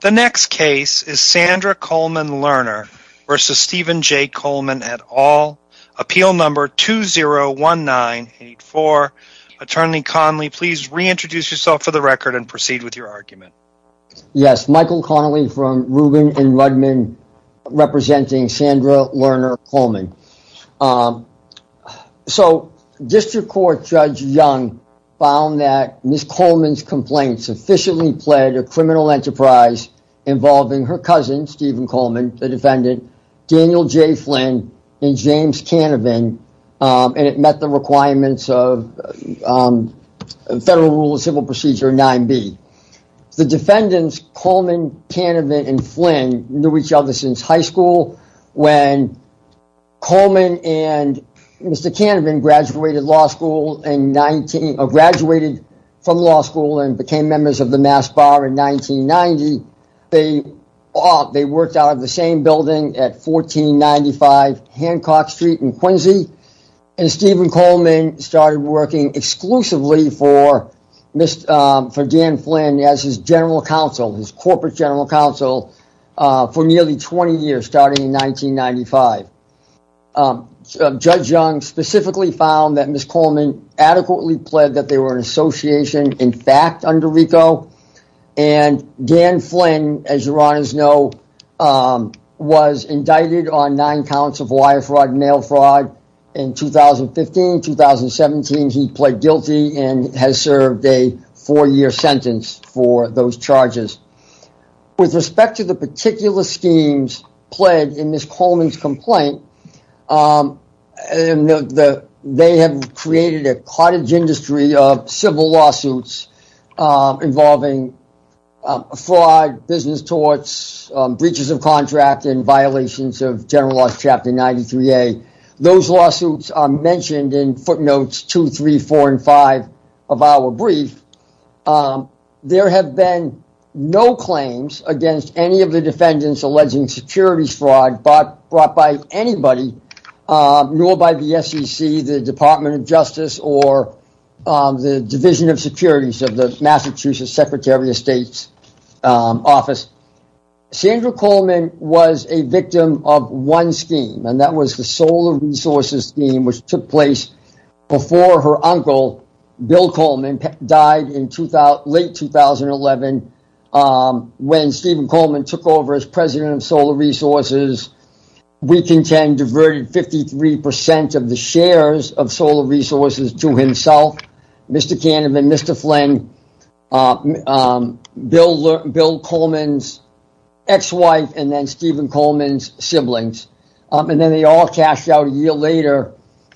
The next case is Sandra Colman Lerner v. Stephen J. Colman et al, appeal number 201984. Attorney Connolly, please reintroduce yourself for the record and proceed with your argument. Yes, Michael Connolly from Rubin & Rudman, representing Sandra Lerner Colman. District Court Judge Young found that Ms. Colman's complaints officially pled a criminal enterprise involving her cousin Stephen Colman, the defendant, Daniel J. Flynn, and James Canavan, and it met the requirements of Federal Rule of Civil Procedure 9B. The defendants, Colman, Canavan, and Flynn, knew each other since high school. When Colman and Mr. Canavan graduated from law school and became members of the Mass Bar in 1990, they worked out of the same building at 1495 Hancock Street in Quincy. Stephen Colman started working exclusively for Dan Flynn as his Corporate General Counsel for nearly 20 years, starting in 1995. District Court Judge Young specifically found that Ms. Colman adequately pled that they were an association, in fact, under RICO, and Dan Flynn, as your Honors know, was indicted on nine counts of wire fraud and mail fraud in 2015. In 2017, he pled guilty and has served a four-year sentence for those charges. With respect to the particular schemes pled in Ms. Colman's complaint, they have created a cottage industry of civil lawsuits involving fraud, business torts, breaches of contract, and violations of General Laws Chapter 93A. Those lawsuits are mentioned in footnotes 2, 3, 4, and 5 of our brief. There have been no claims against any of the defendants alleging securities fraud brought by anybody, nor by the SEC, the Department of Justice, or the Division of Securities of the Massachusetts Secretary of State's Office. Sandra Colman was a victim of one scheme, and that was the Solar Resources Scheme, which took place before her uncle, Bill Colman, died in late 2011. When Stephen Colman took over as President of Solar Resources, Weekend 10 diverted 53% of the shares of Solar Resources to himself, Mr. Canavan, Mr. Flynn, Bill Colman's ex-wife, and then Stephen Colman's siblings. They all cashed out a year later,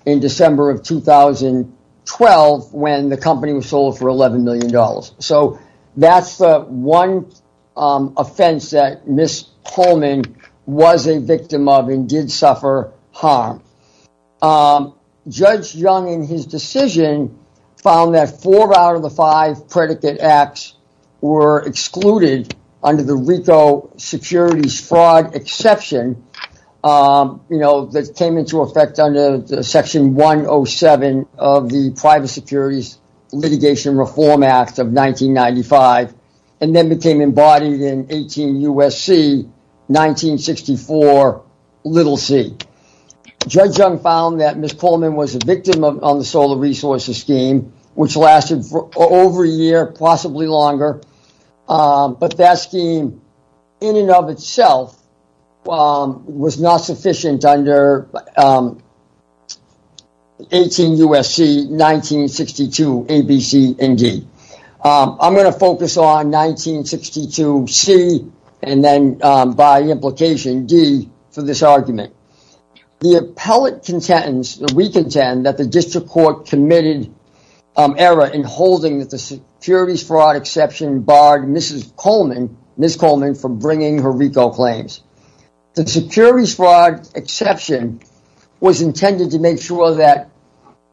in December of 2012, when the company was sold for $11 million. That's the one offense that Ms. Colman was a victim of and did suffer harm. Judge Young, in his decision, found that four out of the five predicate acts were excluded under the RICO Securities Fraud Exception that came into effect under Section 107 of the Private Securities Litigation Reform Act of 1995, and then became embodied in 18 U.S.C., 1964, little c. Judge Young found that Ms. Colman was a victim of the Solar Resources Scheme, which lasted for over a year, possibly longer, but that scheme, in and of itself, was not sufficient under 18 U.S.C., 1962, a, b, c, and d. I'm going to focus on 1962, c, and then, by implication, d, for this argument. The appellate contentence, the Weekend 10, that the District Court committed error in holding that the Securities Fraud Exception barred Ms. Colman from bringing her RICO claims. The Securities Fraud Exception was intended to make sure that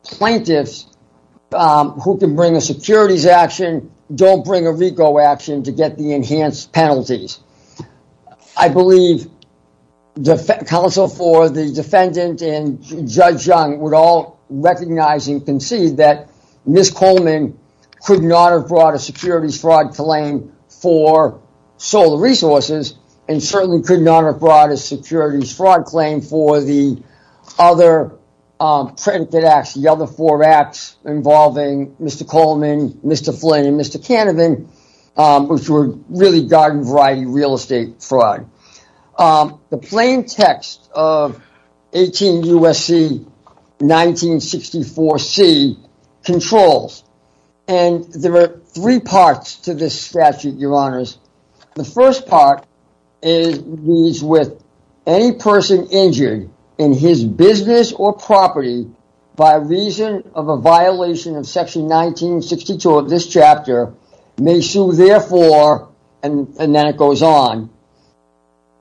plaintiffs who can bring a securities action don't bring a RICO action to get the enhanced penalties. I believe counsel for the defendant and Judge Young would all recognize and concede that Ms. Colman could not have brought a securities fraud claim for solar resources, and certainly could not have brought a securities fraud claim for the other predicate acts, the other four acts involving Mr. Coleman, Mr. Flynn, and Mr. Canavan, which were really garden variety real estate fraud. The plain text of 18 U.S.C., 1964, c, controls, and there are three parts to this statute, your honors. The first part reads, with any person injured in his business or property by reason of a violation of section 1962 of this chapter, may sue therefore, and then it goes on.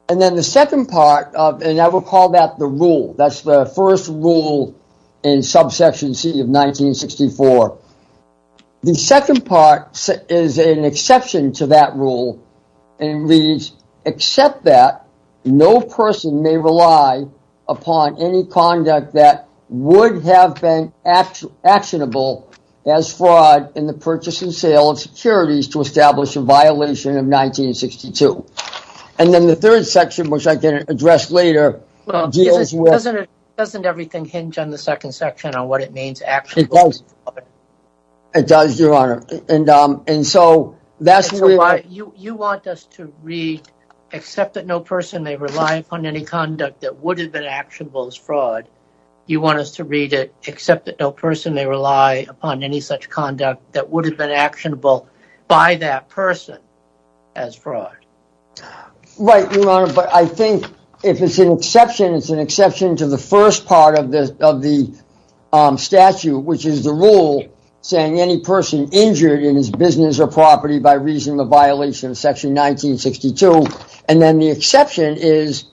And then the second part, and I will call that the rule, that's the first rule in subsection c of 1964. The second part is an exception to that rule, and it reads, except that no person may rely upon any conduct that would have been actionable as fraud in the purchase and sale of securities to establish a violation of 1962. And then the third section, which I can address later. Doesn't everything hinge on the second section on what it means? It does, your honor, and so that's why you want us to read except that no person may rely upon any conduct that would have been actionable as fraud. Right, your honor, but I think if it's an exception, it's an exception to the first part of the statute, which is the rule saying any person injured in his business or property by reason of a violation of section 1962. And then the exception is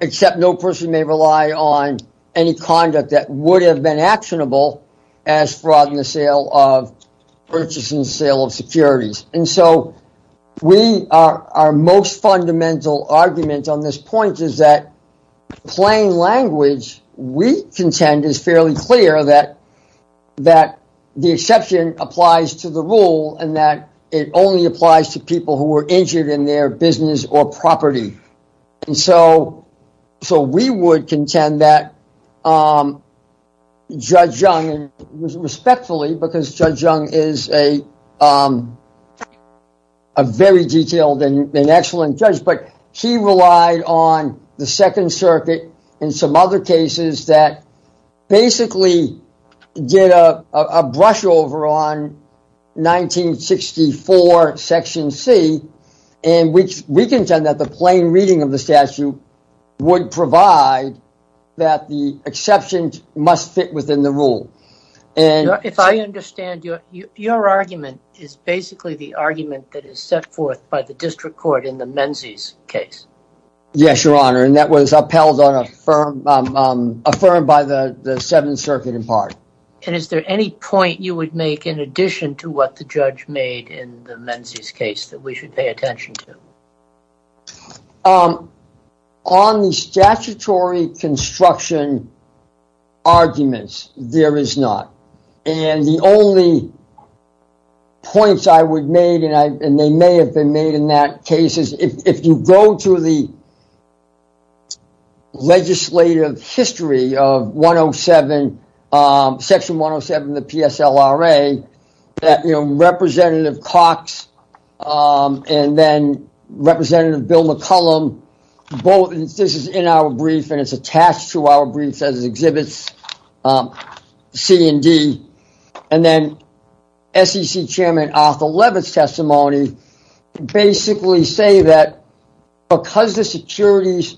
except no person may rely on any conduct that would have been actionable as fraud in the sale of purchase and sale of securities. And so we are our most fundamental argument on this point is that plain language. We contend is fairly clear that that the exception applies to the rule and that it only applies to people who were injured in their business or property. And so so we would contend that Judge Young was respectfully because Judge Young is a very detailed and excellent judge, but she relied on the Second Circuit and some other cases that basically did a brush over on 1964 Section C. And which we contend that the plain reading of the statute would provide that the exception must fit within the rule. And if I understand your argument is basically the argument that is set forth by the district court in the Menzies case. Yes, your honor, and that was upheld on a firm affirmed by the Seventh Circuit in part. And is there any point you would make in addition to what the judge made in the Menzies case that we should pay attention to? On the statutory construction arguments, there is not. And the only points I would made and they may have been made in that case is if you go to the legislative history of Section 107 of the PSLRA. Representative Cox and then Representative Bill McCollum. This is in our brief and it's attached to our brief as exhibits C and D. And then SEC Chairman Arthur Leavitt's testimony basically say that because the securities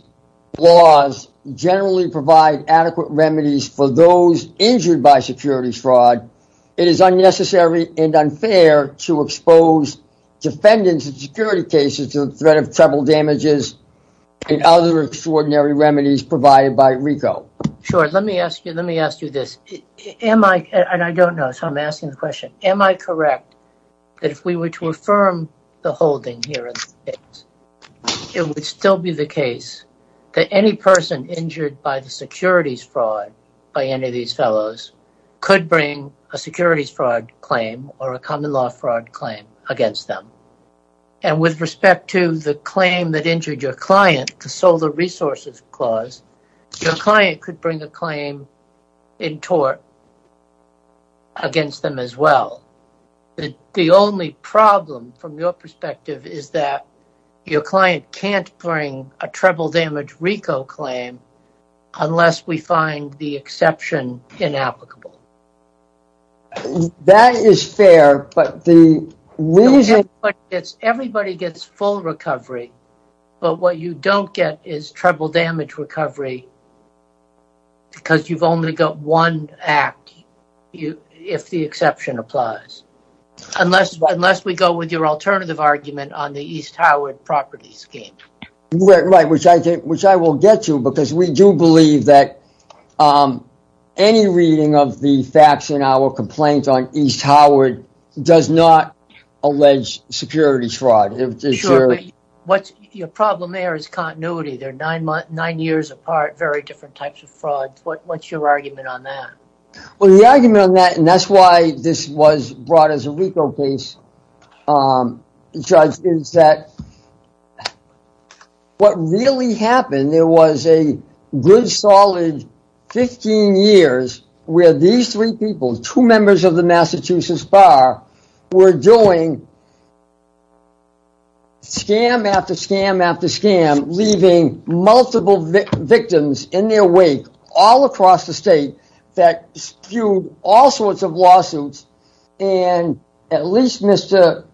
laws generally provide adequate remedies for those injured by securities fraud. It is unnecessary and unfair to expose defendants and security cases to the threat of trouble, damages and other extraordinary remedies provided by RICO. Sure, let me ask you this. And I don't know, so I'm asking the question. Am I correct that if we were to affirm the holding here, it would still be the case that any person injured by the securities fraud by any of these fellows could bring a securities fraud claim or a common law fraud claim against them? And with respect to the claim that injured your client, the Solar Resources Clause, your client could bring a claim in tort against them as well. The only problem from your perspective is that your client can't bring a treble damage RICO claim unless we find the exception inapplicable. That is fair, but the reason... Everybody gets full recovery, but what you don't get is treble damage recovery because you've only got one act if the exception applies. Unless we go with your alternative argument on the East Howard Property Scheme. Right, which I will get to because we do believe that any reading of the facts in our complaint on East Howard does not allege securities fraud. Sure, but your problem there is continuity. They're nine years apart, very different types of fraud. What's your argument on that? Well, the argument on that, and that's why this was brought as a RICO case, Judge, is that what really happened, there was a good solid 15 years where these three people, two members of the Massachusetts Bar, were doing scam after scam after scam, leaving multiple victims in their wake all across the state that spewed all sorts of lawsuits, and at least Mr.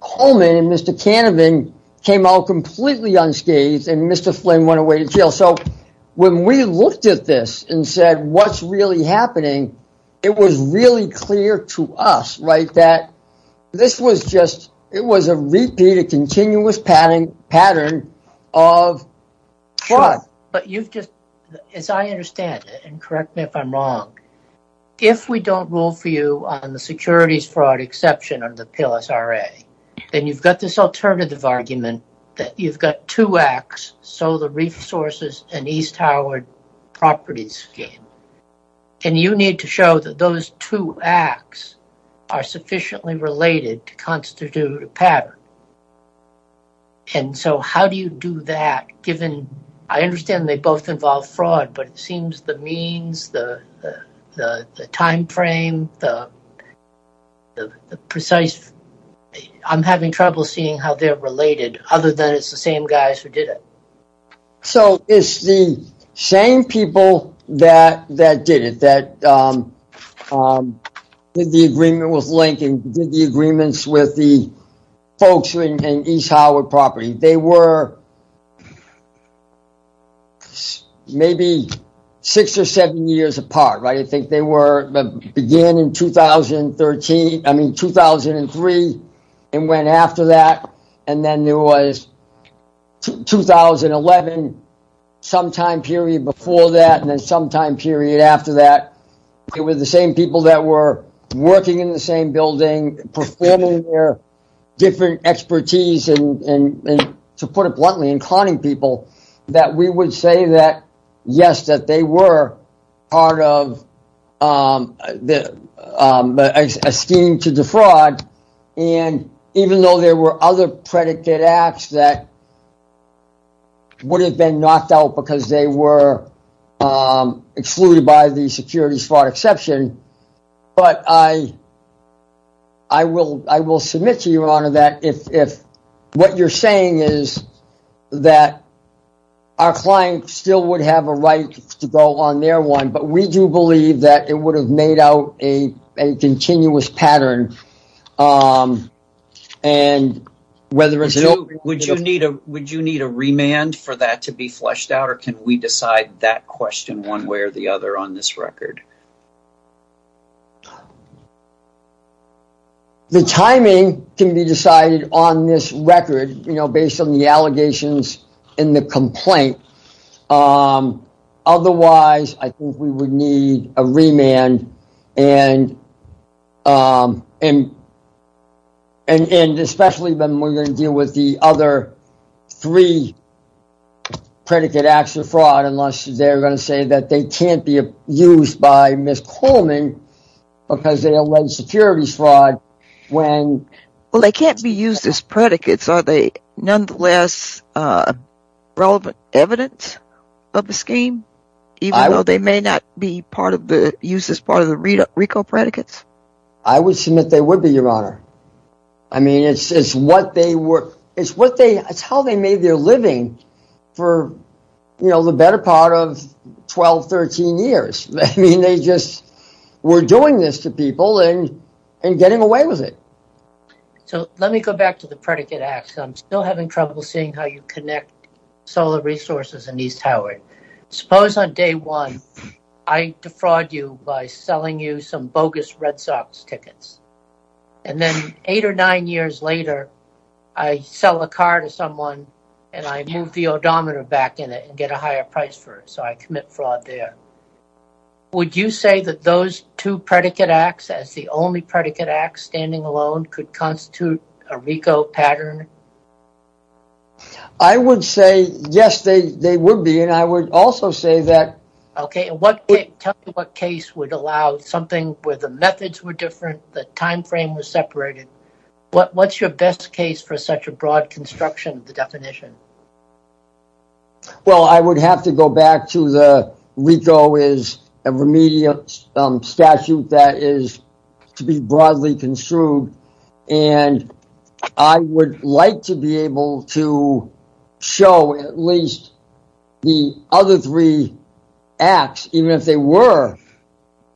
Coleman and Mr. Canavan came out completely unscathed and Mr. Flynn went away to jail. So when we looked at this and said, what's really happening, it was really clear to us, right, that this was just, it was a repeated continuous pattern of fraud. As I understand it, and correct me if I'm wrong, if we don't rule for you on the securities fraud exception of the PLSRA, then you've got this alternative argument that you've got two acts, Solar Reef Sources and East Howard Property Scheme, and you need to show that those two acts are sufficiently related to constitute a pattern. And so how do you do that, given, I understand they both involve fraud, but it seems the means, the timeframe, the precise, I'm having trouble seeing how they're related, other than it's the same guys who did it. So it's the same people that did it, that did the agreement with Lincoln, did the agreements with the folks in East Howard Property. They were maybe six or seven years apart, right, I think they were, began in 2013, I mean 2003, and went after that, and then there was 2011, sometime period before that, and then sometime period after that. It was the same people that were working in the same building, performing their different expertise, and to put it bluntly, and conning people, that we would say that, yes, that they were part of a scheme to defraud. And even though there were other predicate acts that would have been knocked out because they were excluded by the securities fraud exception, but I will submit to you, Your Honor, that if what you're saying is that our client still would have a right to go on their one, but we do believe that it would have made out a continuous pattern. Would you need a remand for that to be fleshed out, or can we decide that question one way or the other on this record? The timing can be decided on this record, you know, based on the allegations in the complaint, otherwise, I think we would need a remand, and especially when we're going to deal with the other three predicate acts of fraud, unless they're going to say that they can't be used by us. Well, they can't be used as predicates, are they nonetheless relevant evidence of the scheme, even though they may not be used as part of the RICO predicates? I would submit they would be, Your Honor. I mean, it's how they made their living for the better part of 12, 13 years. I mean, they just were doing this to people and getting away with it. So, let me go back to the predicate acts. I'm still having trouble seeing how you connect solar resources in East Howard. Suppose on day one, I defraud you by selling you some bogus Red Sox tickets, and then eight or nine years later, I sell a car to someone, and I move the odometer back in it and get a higher price for it, so I commit fraud there. Would you say that those two predicate acts as the only predicate acts standing alone could constitute a RICO pattern? I would say, yes, they would be, and I would also say that... Okay, and tell me what case would allow something where the methods were different, the time frame was separated. What's your best case for such a broad construction of the definition? Well, I would have to go back to the RICO is a remedial statute that is to be broadly construed, and I would like to be able to show at least the other three acts, even if they were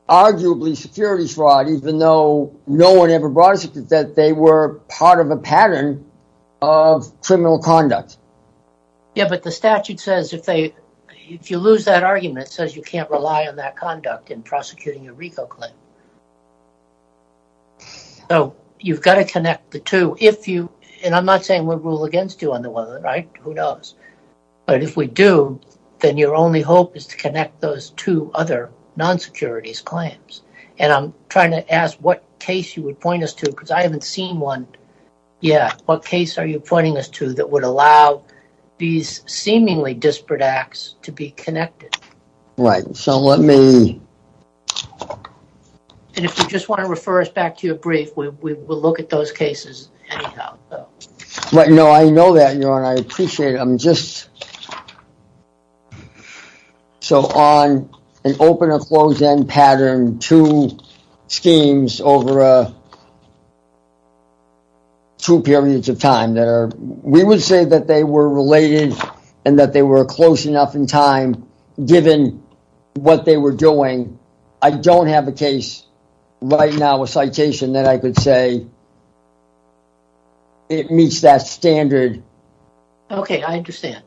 arguably security fraud, even though no one ever brought us that they were part of a pattern of criminal conduct. Yeah, but the statute says if you lose that argument, it says you can't rely on that conduct in prosecuting a RICO claim. So, you've got to connect the two, and I'm not saying we'll rule against you on the one, right? Who knows? But if we do, then your only hope is to connect those two other non-securities claims. And I'm trying to ask what case you would point us to, because I haven't seen one yet. What case are you pointing us to that would allow these seemingly disparate acts to be connected? Right. So, let me... And if you just want to refer us back to your brief, we will look at those cases anyhow. No, I know that, and I appreciate it. I'm just... So, on an open or closed-end pattern, two schemes over two periods of time, we would say that they were related and that they were close enough in time, given what they were doing. I don't have a case right now, a citation, that I could say it meets that standard. Okay, I understand.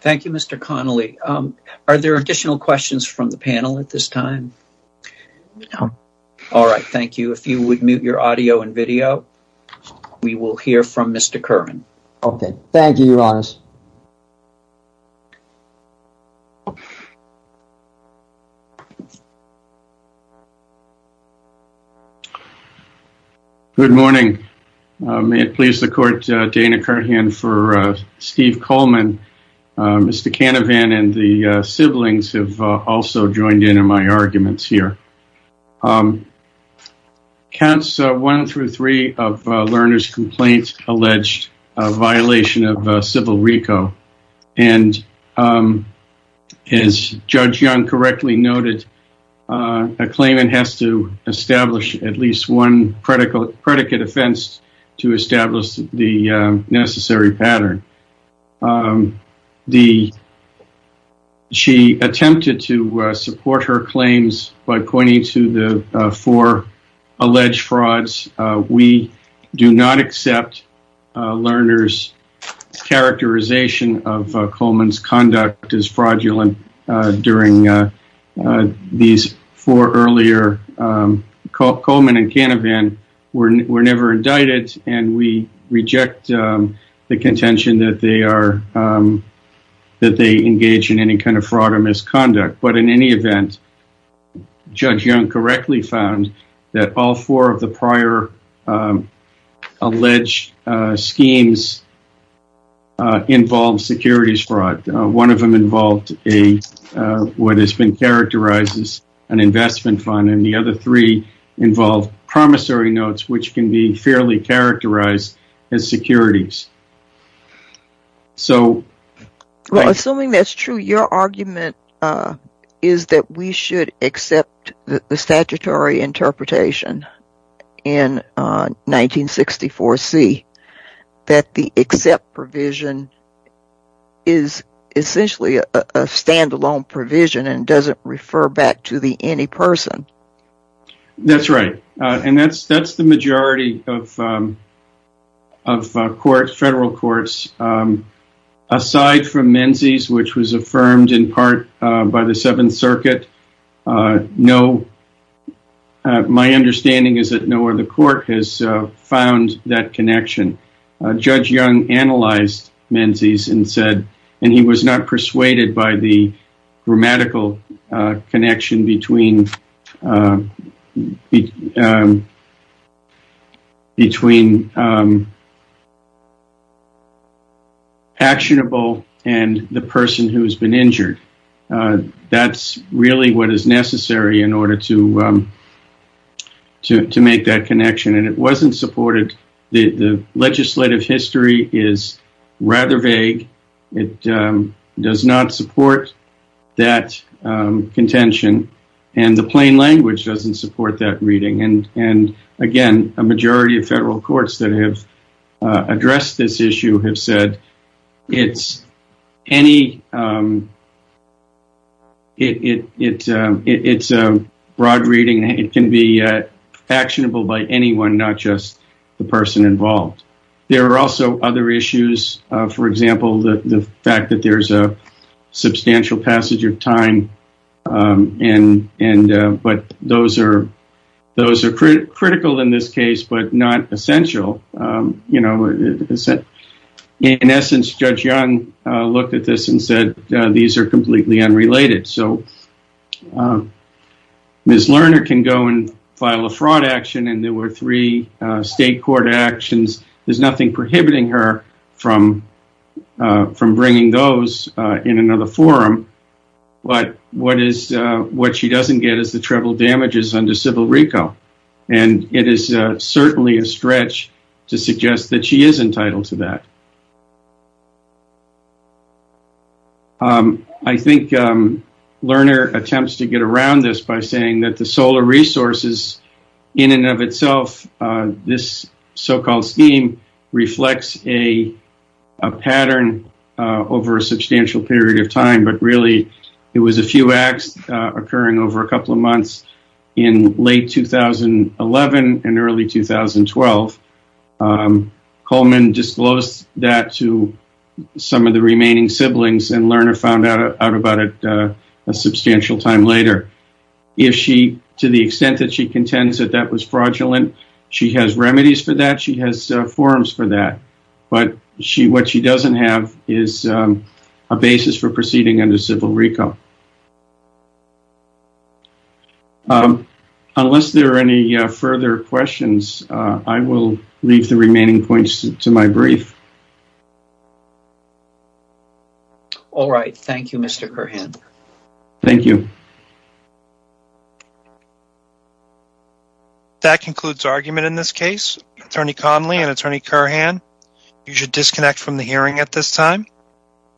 Thank you, Mr. Connolly. Are there additional questions from the panel at this time? No. All right. Thank you. If you would mute your audio and video, we will hear from Mr. Curran. Okay. Thank you, Your Honors. Good morning. May it please the Court, Dana Curran for Steve Coleman. Mr. Canavan and the siblings have also joined in on my arguments here. Counts one through three of Lerner's complaints alleged a violation of civil RICO. And as Judge Young correctly noted, a claimant has to establish at least one predicate offense to establish the necessary pattern. She attempted to support her claims by pointing to the four alleged frauds. We do not accept Lerner's characterization of Coleman's conduct as fraudulent during these four earlier... and that they engage in any kind of fraud or misconduct. But in any event, Judge Young correctly found that all four of the prior alleged schemes involved securities fraud. One of them involved what has been characterized as an investment fund. And the other three involved promissory notes, which can be fairly characterized as securities. So... Well, assuming that's true, your argument is that we should accept the statutory interpretation in 1964C. That the except provision is essentially a standalone provision and doesn't refer back to the any person. That's right. And that's the majority of federal courts. Aside from Menzies, which was affirmed in part by the Seventh Circuit. My understanding is that no other court has found that connection. Judge Young analyzed Menzies and said... And he was not persuaded by the grammatical connection between actionable and the person who has been injured. That's really what is necessary in order to make that connection. And it wasn't supported. The legislative history is rather vague. It does not support that contention. And the plain language doesn't support that reading. And again, a majority of federal courts that have addressed this issue have said... It's a broad reading. It can be actionable by anyone, not just the person involved. There are also other issues. For example, the fact that there's a substantial passage of time. And but those are critical in this case, but not essential. In essence, Judge Young looked at this and said, these are completely unrelated. So Ms. Lerner can go and file a fraud action. And there were three state court actions. There's nothing prohibiting her from bringing those in another forum. But what she doesn't get is the treble damages under civil RICO. And it is certainly a stretch to suggest that she is entitled to that. I think Lerner attempts to get around this by saying that the solar resources in and of itself. This so-called scheme reflects a pattern over a substantial period of time. But really, it was a few acts occurring over a couple of months in late 2011 and early 2012. Coleman disclosed that to some of the remaining siblings and Lerner found out about it a substantial time later. If she, to the extent that she contends that that was fraudulent, she has remedies for that. She has forums for that. But what she doesn't have is a basis for proceeding under civil RICO. Unless there are any further questions, I will leave the remaining points to my brief. All right. Thank you, Mr. Curhan. Thank you. That concludes argument in this case. Attorney Conley and Attorney Curhan, you should disconnect from the hearing at this time.